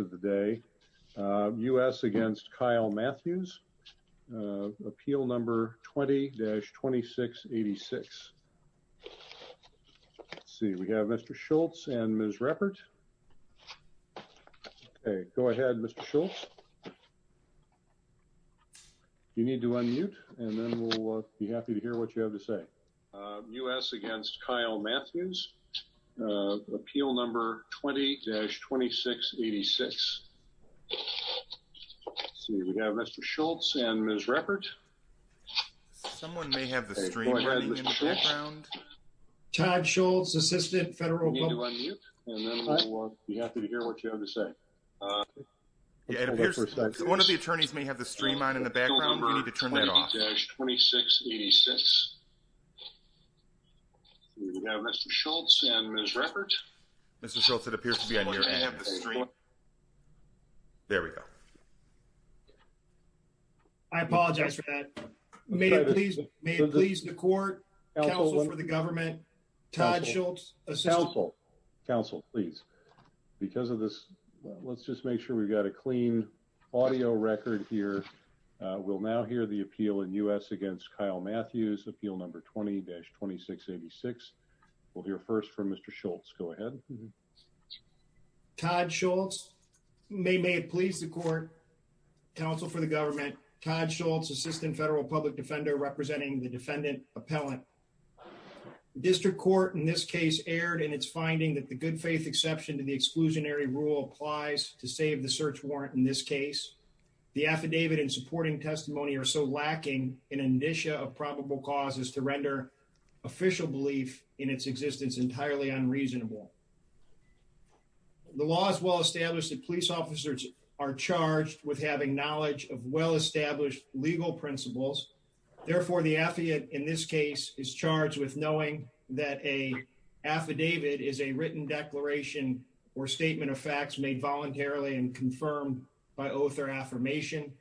of the day. U.S. against Kyle Matthews. Appeal number 20-2686. Let's see. We have Mr. Schultz and Ms. Ruppert. Okay. Go ahead, Mr. Schultz. You need to unmute, and then we'll be happy to hear what you have to say. U.S. against Kyle Matthews. Appeal number 20-2686. Let's see. We have Mr. Schultz and Ms. Ruppert. Okay. Go ahead, Mr. Schultz. Todd Schultz, assistant federal public. You need to unmute, and then we'll be happy to hear what you have to say. Okay. Go ahead, Mr. Schultz. It appears that one of the attorneys may have the stream number 20-2686. We have Mr. Schultz and Ms. Ruppert. Mr. Schultz, it appears to be on your end of the stream. There we go. I apologize for that. May it please the court, counsel for the government, Todd Schultz, assistant... Counsel. Counsel, please. Because of this, let's just make sure we've got a clean audio record here. We'll now hear the appeal in U.S. against Kyle Matthews. Appeal number 20-2686. We'll hear first from Mr. Schultz. Go ahead. Todd Schultz. May it please the court, counsel for the government, Todd Schultz, assistant federal public defender representing the defendant appellant. District court in this case erred in its finding that the good faith exception to the exclusionary rule applies to save the search warrant in this case. The affidavit and supporting testimony are so lacking in an indicia of probable causes to render official belief in its existence entirely unreasonable. The law is well established that police officers are charged with having knowledge of well- established legal principles. Therefore, the affidavit in this case is charged with knowing that a affidavit is a written declaration or statement of facts made voluntarily and confirmed by oath or affirmation.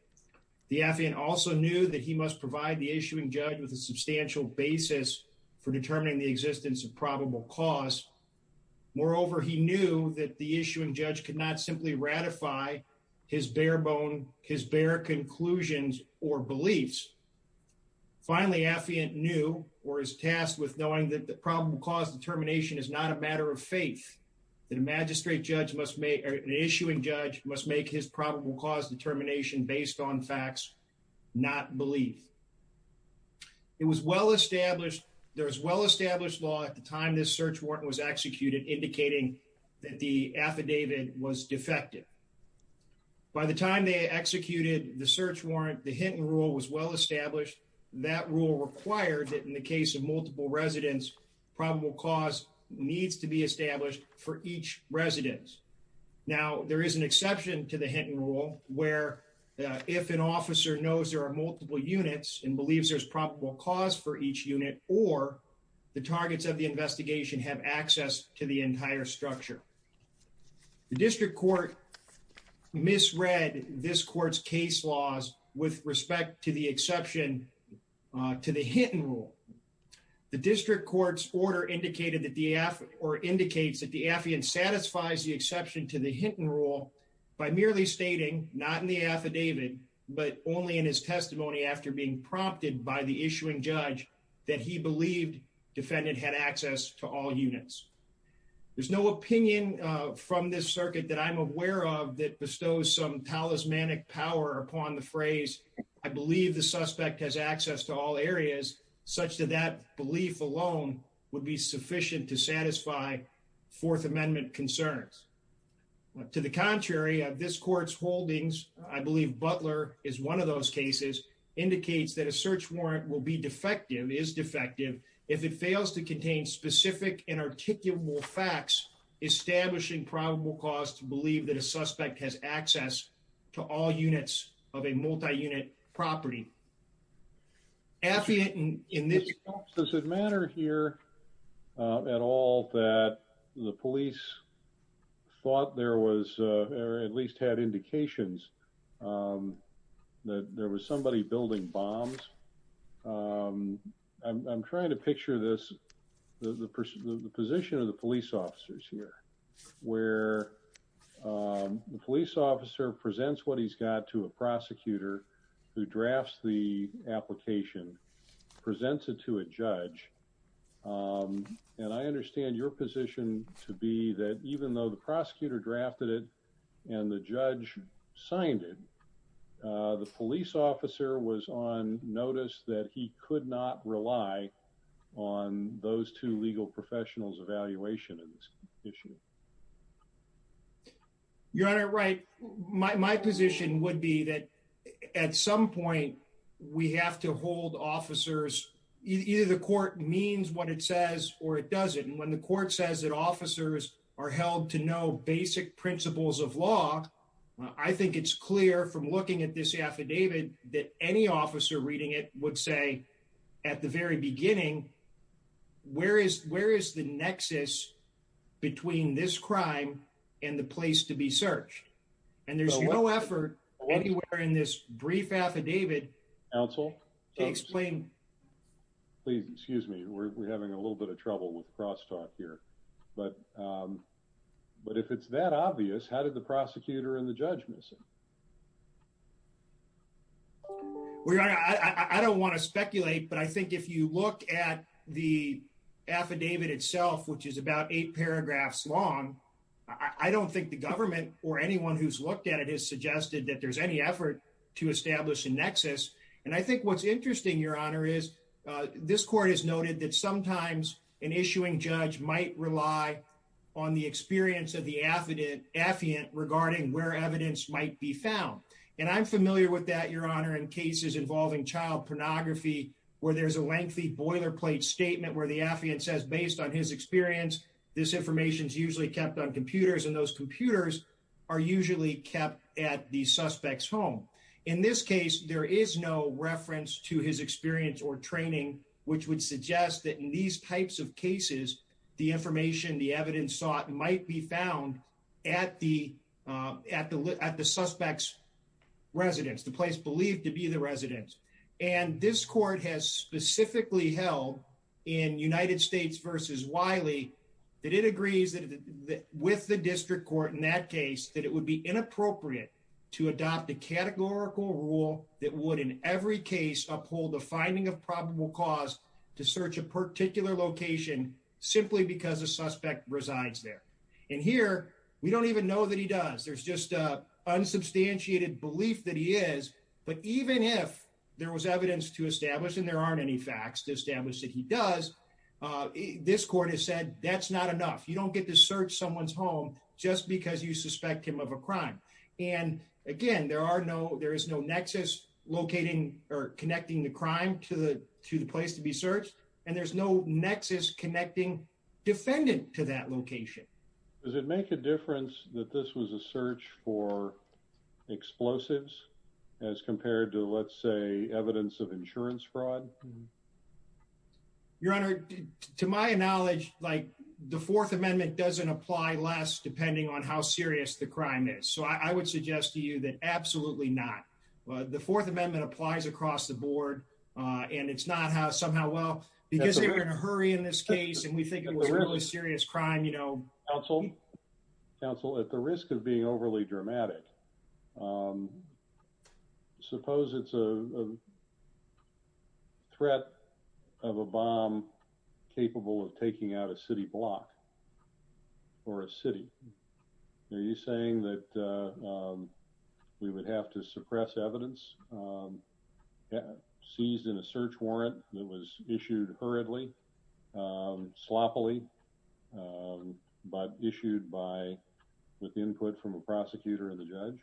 The affiant also knew that he must provide the issuing judge with a substantial basis for determining the existence of probable cause. Moreover, he knew that the issuing judge could not simply ratify his bare bone, his bare conclusions or beliefs. Finally, the affiant knew or is tasked with knowing that the probable cause determination is not a matter of faith, that a magistrate judge must make, an issuing judge must make his probable cause determination based on facts not believed. It was well established, there was well-established law at the time this search warrant was executed indicating that the affidavit was defective. By the time they executed the search warrant, the Hinton rule was well-established. That rule required that in the case of multiple residents, probable cause needs to be established for each resident. Now, there is an exception to the Hinton rule where if an officer knows there are multiple units and believes there's probable cause for each unit or the targets of the investigation have access to the entire structure. The district court misread this case law with respect to the exception to the Hinton rule. The district court's order indicates that the affiant satisfies the exception to the Hinton rule by merely stating not in the affidavit but only in his testimony after being prompted by the issuing judge that he believed defendant had access to all units. There's no opinion from this circuit that I'm aware of that power upon the phrase, I believe the suspect has access to all areas such that that belief alone would be sufficient to satisfy fourth amendment concerns. To the contrary of this court's holdings, I believe Butler is one of those cases, indicates that a search warrant will be defective, is defective, if it fails to contain specific and articulable facts establishing probable cause to all units of a multi-unit property. Affiant in this... Does it matter here at all that the police thought there was or at least had indications that there was somebody building bombs? I'm trying to picture this, the position of the police officers here, where the police officer presents what he's got to a prosecutor who drafts the application, presents it to a judge, and I understand your position to be that even though the prosecutor drafted it and the judge signed it, the police officer was on notice that he could not rely on those two legal professionals evaluation in this issue. You're right, my position would be that at some point we have to hold officers, either the court means what it says or it doesn't, and when the court says that officers are held to know basic principles of law, I think it's clear from looking at this affidavit that any officer reading it would say at the very beginning, where is the nexus between this crime and the place to be searched? And there's no effort anywhere in this brief affidavit to explain... Counsel, please excuse me, we're having a little bit of trouble with crosstalk here, but if it's that obvious, how did the prosecutor and the judge miss it? Well, your honor, I don't want to speculate, but I think if you look at the affidavit itself, which is about eight paragraphs long, I don't think the government or anyone who's looked at it has suggested that there's any effort to establish a nexus. And I think what's interesting, your honor, is this court has noted that sometimes an issuing judge might rely on the experience of affiant regarding where evidence might be found. And I'm familiar with that, your honor, in cases involving child pornography, where there's a lengthy boilerplate statement where the affiant says based on his experience, this information is usually kept on computers and those computers are usually kept at the suspect's home. In this case, there is no reference to his experience or training, which would suggest that in these types of cases, the information, the evidence sought might be found at the suspect's residence, the place believed to be the residence. And this court has specifically held in United States versus Wiley, that it agrees with the district court in that case, that it would be inappropriate to adopt a categorical rule that would in every case uphold the finding of probable cause to search a particular location simply because a suspect resides there. And here, we don't even know that he does. There's just a unsubstantiated belief that he is. But even if there was evidence to establish and there aren't any facts to establish that he does, this court has said that's not enough. You don't get to search someone's home just because you suspect him of a crime. And again, there is no nexus locating or connecting the crime to the place to be searched. And there's no nexus connecting defendant to that location. Does it make a difference that this was a search for explosives as compared to, let's say, evidence of insurance fraud? Your Honor, to my knowledge, like the Fourth Amendment doesn't apply less depending on how serious the crime is. So I would suggest to you that absolutely not. The Fourth Amendment applies across the board and it's not how somehow, well, because they were in a hurry in this case and we think it was a really serious crime, you know. Counsel, at the risk of being overly dramatic, suppose it's a threat of a bomb capable of taking out a city block or a city. Are you saying that we would have to suppress evidence seized in a search warrant that was issued hurriedly, sloppily, but issued with input from a prosecutor and the judge?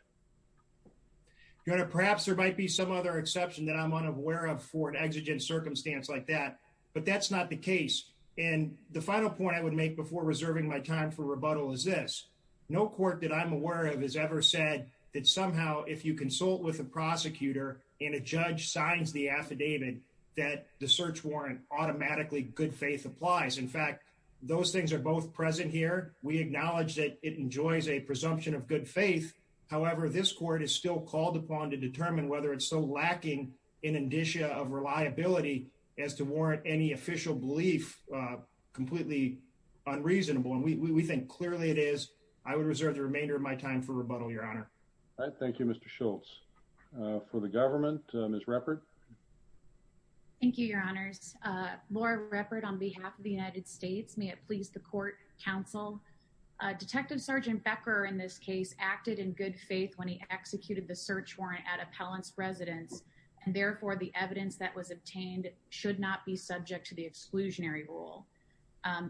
Your Honor, perhaps there might be some other exception that I'm unaware of for an exigent circumstance like that, but that's not the case. And the final point I would make before reserving my time for rebuttal is this. No court that I'm aware of has ever said that somehow if you consult with a prosecutor and a judge signs the affidavit that the search warrant automatically good faith applies. In fact, those things are both present here. We acknowledge that it enjoys a presumption of good faith. However, this court is still called upon to determine whether it's so lacking in indicia of reliability as to warrant any official belief completely unreasonable. And we think clearly it is. I would reserve the remainder of my time for rebuttal, Your Honor. All right. Thank you, Mr. Schultz. For the government, Ms. Ruppert. Thank you, Your Honors. Laura Ruppert on behalf of the United States. May it please the court counsel. Detective Sergeant Becker in this case acted in good faith when he executed the search warrant at appellant's residence. And therefore, the evidence that was obtained should not be subject to the exclusionary rule.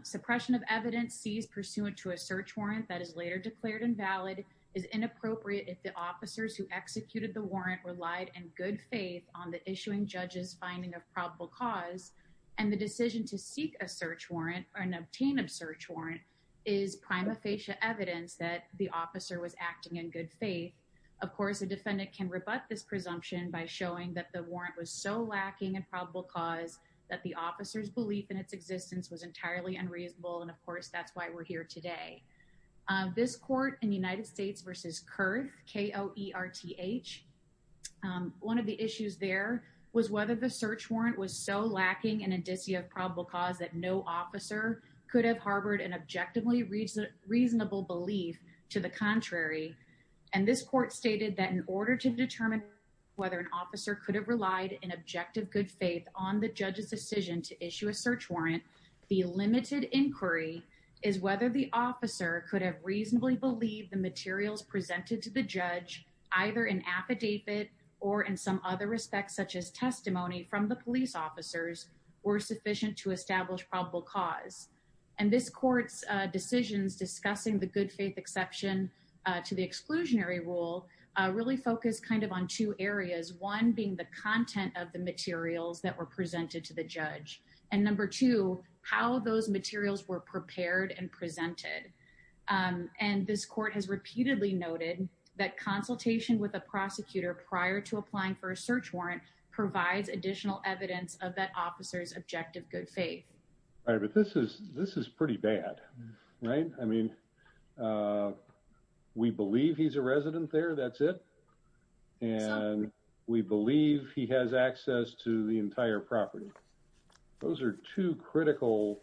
Suppression of evidence sees pursuant to a search warrant that is later declared invalid is inappropriate if the officers who executed the warrant relied in good faith on the issuing judge's finding of probable cause. And the decision to seek a search warrant or an obtain of search warrant is prima facie evidence that the officer was acting in good faith. Of course, a defendant can rebut this presumption by showing that the warrant was so lacking in probable cause that the officer's belief in its existence was entirely unreasonable. And, of course, that's why we're here today. This court in the United States versus Kerr, K-O-E-R-T-H. One of the issues there was whether the search warrant was so lacking in indicia of probable cause that no officer could have harbored an objectively reasonable belief to the contrary. And this court stated that in order to determine whether an officer could have relied in objective good faith on the judge's decision to issue a search warrant, the limited inquiry is whether the officer could have reasonably believed the materials presented to the judge either in affidavit or in some other respect such as testimony from the police officers were sufficient to establish probable cause. And this court's decisions discussing the good faith exception to the exclusionary rule really focused kind of on two areas, one being the content of the materials that were presented to the judge, and number two, how those materials were prepared and presented. And this court has repeatedly noted that consultation with a prosecutor prior to applying for a search warrant provides additional evidence of that officer's objective good faith. All right, but this is pretty bad, right? I mean, we believe he's a resident there, that's it. And we believe he has access to the entire property. Those are two critical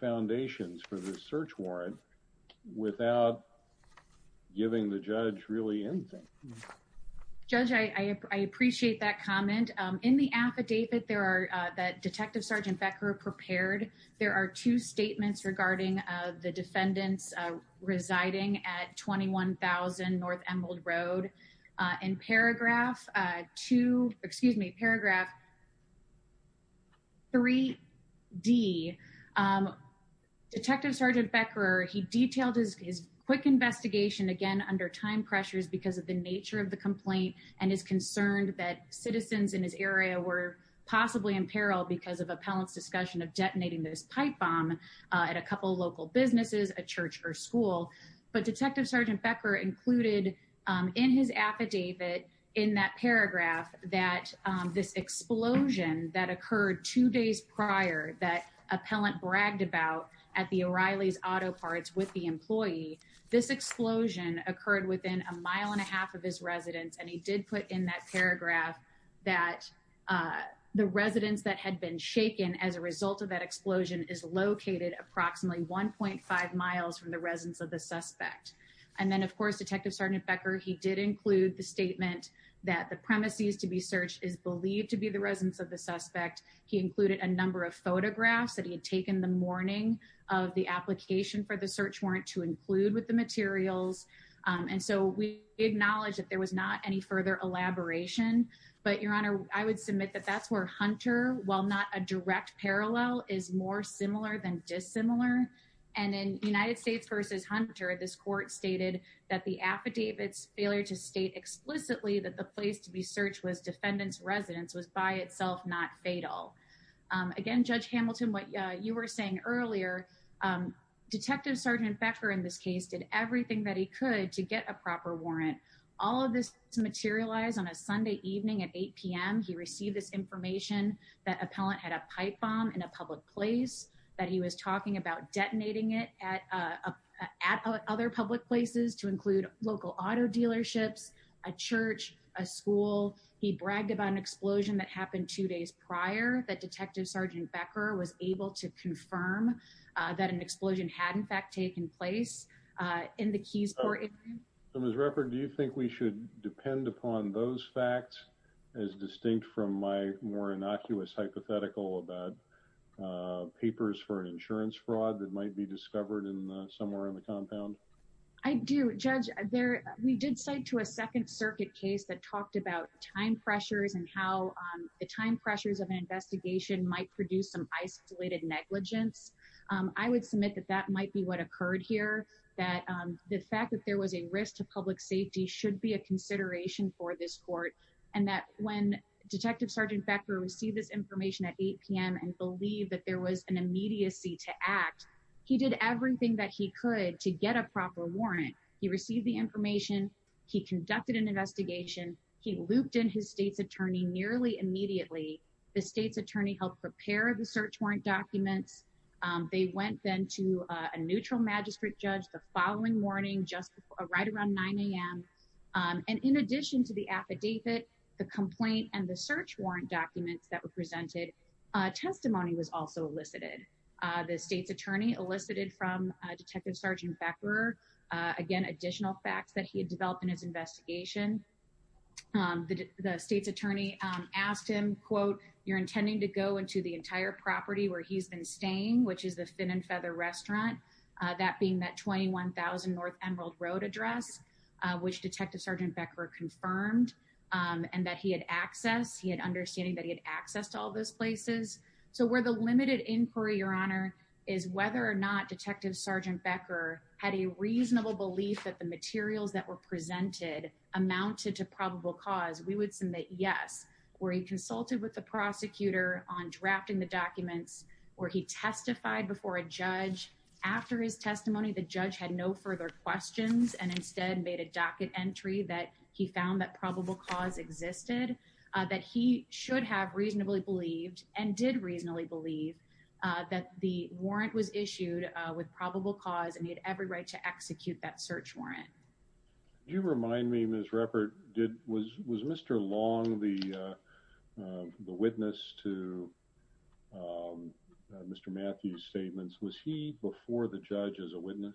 foundations for the search warrant without giving the judge really anything. Judge, I appreciate that comment. In the affidavit that Detective Sergeant Becker prepared, there are two statements regarding the defendants residing at 21,000 North Emerald Road. In paragraph two, excuse me, paragraph 3D, Detective Sergeant Becker, he detailed his quick investigation, again, under time pressures because of the nature of the complaint, and is concerned that citizens in his area were possibly in peril because of appellant's discussion of detonating this pipe bomb at a couple of local businesses, a church, or school. But Detective Sergeant Becker included in his affidavit, in that paragraph, that this explosion that occurred two days prior that appellant bragged about at the O'Reilly's Auto Parts with the employee, this explosion occurred within a mile and a half of his residence. And he did put in that paragraph that the residence that had been shaken as a result of that explosion is located approximately 1.5 miles from the residence of the suspect. And then, of course, Detective Sergeant Becker, he did include the statement that the premises to be searched is believed to be the suspect. He included a number of photographs that he had taken the morning of the application for the search warrant to include with the materials. And so we acknowledge that there was not any further elaboration. But, Your Honor, I would submit that that's where Hunter, while not a direct parallel, is more similar than dissimilar. And in United States versus Hunter, this court stated that the affidavit's failure to state explicitly that the place to be searched was defendant's residence was by itself not fatal. Again, Judge Hamilton, what you were saying earlier, Detective Sergeant Becker in this case did everything that he could to get a proper warrant. All of this materialized on a Sunday evening at 8 p.m. He received this information that appellant had a pipe bomb in a public place, that he was talking about detonating it at other public places to include local auto dealerships, a church, a school. He bragged about an explosion that happened two days prior that Detective Sergeant Becker was able to confirm that an explosion had, in fact, taken place in the Keysport area. Ms. Ruppert, do you think we should depend upon those facts as distinct from my more innocuous hypothetical about papers for an I do, Judge. We did cite to a Second Circuit case that talked about time pressures and how the time pressures of an investigation might produce some isolated negligence. I would submit that that might be what occurred here, that the fact that there was a risk to public safety should be a consideration for this court, and that when Detective Sergeant Becker received this information at 8 p.m. and believed that there was an immediacy to act, he did everything that he could to get a warrant. He received the information. He conducted an investigation. He looped in his state's attorney nearly immediately. The state's attorney helped prepare the search warrant documents. They went then to a neutral magistrate judge the following morning, just right around 9 a.m., and in addition to the affidavit, the complaint, and the search warrant documents that were presented, testimony was also elicited. The state's attorney elicited from Detective Sergeant Becker, again, additional facts that he had developed in his investigation. The state's attorney asked him, quote, you're intending to go into the entire property where he's been staying, which is the Fin and Feather Restaurant, that being that 21,000 North Emerald Road address, which Detective Sergeant Becker confirmed, and that he had access, he had understanding that he had access to all those places. So where the limited inquiry, Your Honor, is whether or not Detective Sergeant Becker had a reasonable belief that the materials that were presented amounted to probable cause, we would submit yes, where he consulted with the prosecutor on drafting the documents, where he testified before a judge. After his testimony, the judge had no further questions and instead made a docket entry that he found that probable cause existed, that he should have reasonably believed and did reasonably believe that the warrant was issued with probable cause and he had every right to execute that search warrant. Can you remind me, Ms. Ruppert, was Mr. Long the witness to Mr. Matthews' statements? Was he before the judge as a witness?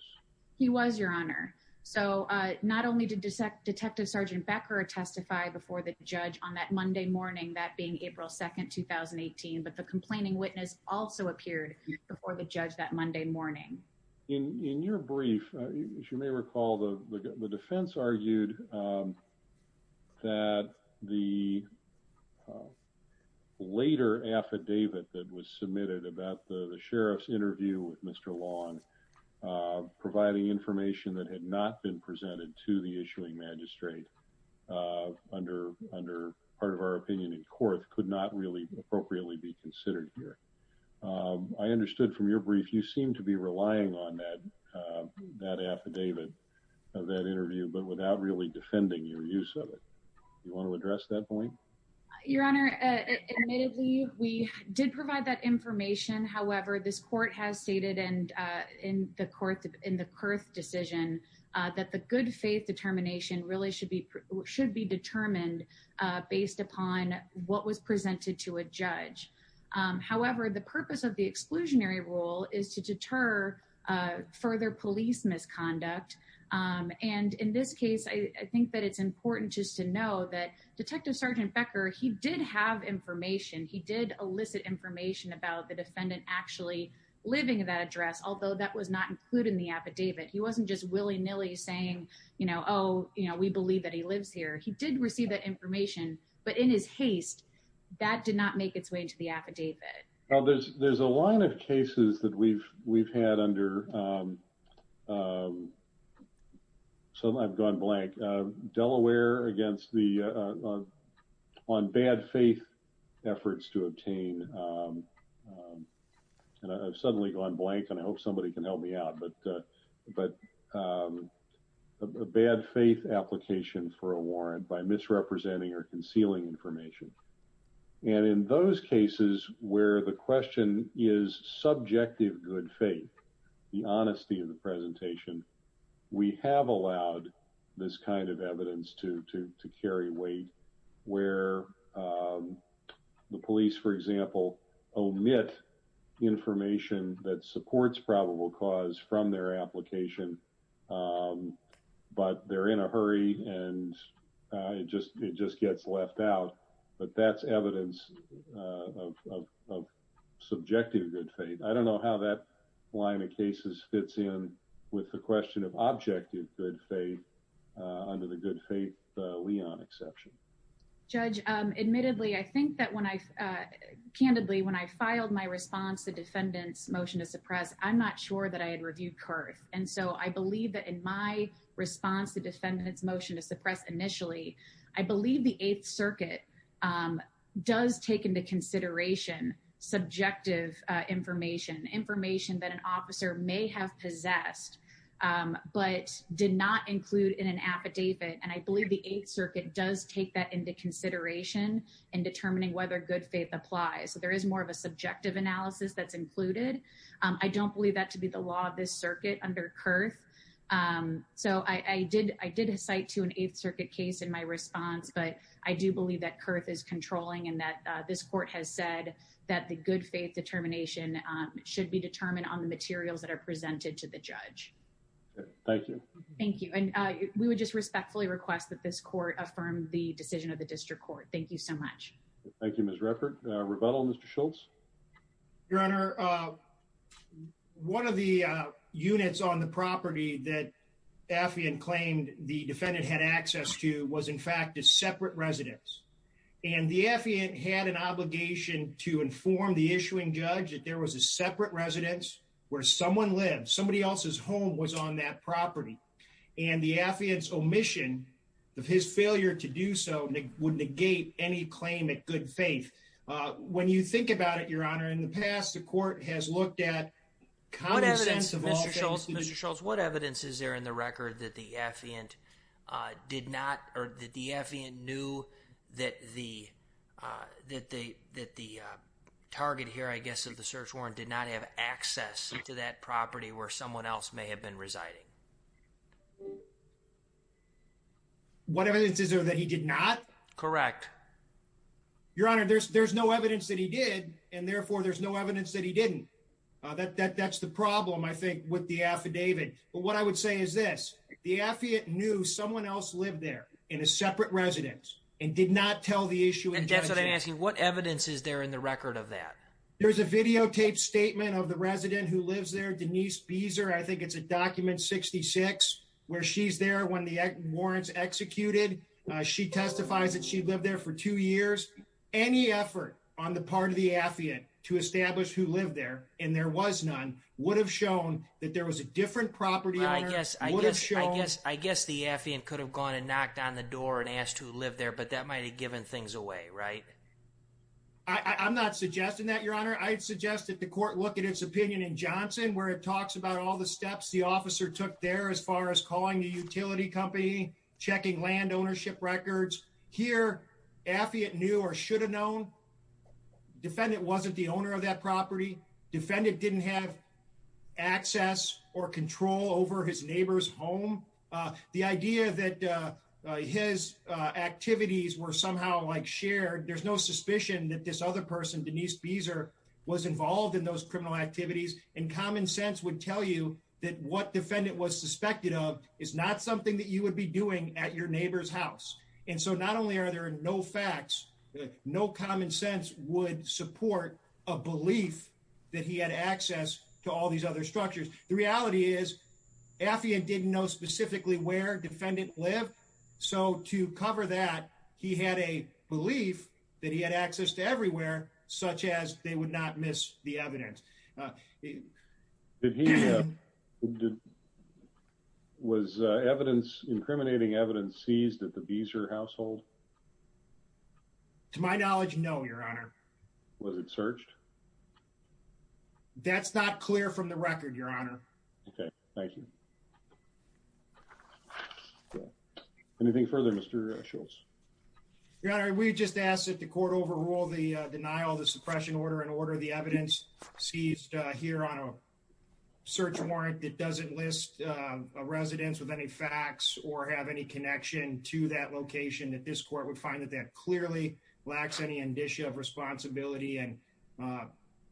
He was, Your Honor. So not only did Detective Sergeant Becker testify before the judge on that Monday morning, that being April 2nd, 2018, but the complaining witness also appeared before the judge that Monday morning. In your brief, as you may recall, the defense argued that the later affidavit that was submitted about the sheriff's interview with Mr. Long providing information that had not been presented to the issuing magistrate under part of our opinion in court could not really appropriately be considered here. I understood from your brief, you seem to be relying on that affidavit of that interview, but without really defending your use of it. Do you want to address that point? Your Honor, admittedly, we did provide that information. However, this court has stated in the Kurth decision that the good faith determination really should be determined based upon what was presented to a judge. However, the purpose of the exclusionary rule is to deter further police misconduct. And in this case, I think that it's important just to know that Detective Sergeant Becker, he did have information. He did elicit information about the defendant actually living in that address, although that was not included in the affidavit. He wasn't just willy-nilly saying, you know, oh, you know, we believe that he lives here. He did receive that information, but in his haste, that did not make its way to the affidavit. Well, there's a line of cases that we've had under, so I've gone blank, Delaware against the, on bad faith efforts to obtain, and I've suddenly gone blank and I hope somebody can help me out, but a bad faith application for a warrant by misrepresenting or concealing information. And in those cases where the question is subjective good faith, the honesty of the presentation, we have allowed this kind of evidence to carry weight where the police, for example, omit information that supports probable cause from their application, but they're in a hurry and it just gets left out, but that's evidence of subjective good faith. I don't know how that line of cases fits in with the question of objective good faith under the good faith Leon exception. Judge, admittedly, I think that when I, candidly, when I filed my response to defendant's motion to suppress initially, I believe the eighth circuit does take into consideration subjective information, information that an officer may have possessed, but did not include in an affidavit. And I believe the eighth circuit does take that into consideration in determining whether good faith applies. So there is more of a subjective analysis that's included. I don't believe that to be the law of this circuit under Kurth. So I did cite to an eighth circuit case in my response, but I do believe that Kurth is controlling and that this court has said that the good faith determination should be determined on the materials that are presented to the judge. Thank you. Thank you. And we would just respectfully request that this court affirm the decision of the district court. Thank you so much. Thank you, Ms. Ruppert. Rebuttal, Mr. Schultz. Your Honor, one of the units on the property that Affion claimed the defendant had access to was, in fact, a separate residence. And the Affion had an obligation to inform the issuing judge that there was a separate residence where someone lived. Somebody else's home was on that property. And the Affion's omission of his failure to do so would negate any claim at good faith. When you think about it, Your Honor, in the past, the court has looked at common sense. Mr. Schultz, what evidence is there in the record that the Affion did not or that the Affion knew that the target here, I guess, of the search warrant did not have access to that property where someone else may have been residing? What evidence is there that he did not? Correct. Your Honor, there's no evidence that he did. And therefore, there's no evidence that he didn't. That's the problem, I think, with the affidavit. But what I would say is this. The Affion knew someone else lived there in a separate residence and did not tell the issue. And that's what I'm asking. What evidence is there in the record of that? There's a videotaped statement of the resident who lives there, Denise Beeser. I think it's a document 66, where she's there when the warrant's executed. She testifies that she lived there for two years. Any effort on the part of the Affion to establish who lived there, and there was none, would have shown that there was a different property owner. I guess the Affion could have gone and knocked on the door and asked who lived there, but that might have given things away, right? I'm not suggesting that, Your Honor. I'd suggest that the court look at its opinion in Johnson, where it talks about all the steps the officer took there as far as calling the utility company, checking land ownership records. Here, Affion knew or should have known. Defendant wasn't the owner of that property. Defendant didn't have access or control over his neighbor's home. The idea that his activities were somehow shared, there's no suspicion that this other person, Denise Beeser, was involved in those criminal activities. Common sense would tell you that what defendant was suspected of is not something that you would be doing at your neighbor's house. Not only are there no facts, no common sense would support a belief that he had access to all these other structures. The reality is, Affion didn't know specifically where defendant lived. To cover that, he had a belief that he had access to everywhere, such as they would not miss the evidence. Did he... Was evidence, incriminating evidence, seized at the Beeser household? To my knowledge, no, Your Honor. Was it searched? That's not clear from the record, Your Honor. Okay, thank you. Anything further, Mr. Schultz? Your Honor, we just asked that the court overrule the denial of the suppression order and order the evidence seized here on a search warrant that doesn't list a residence with any facts or have any connection to that location. That this court would find that that clearly lacks any indicia of responsibility and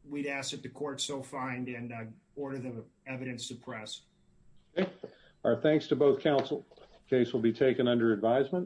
we'd ask that the court so find and order the evidence suppressed. Our thanks to both counsel. Case will be taken under advisement.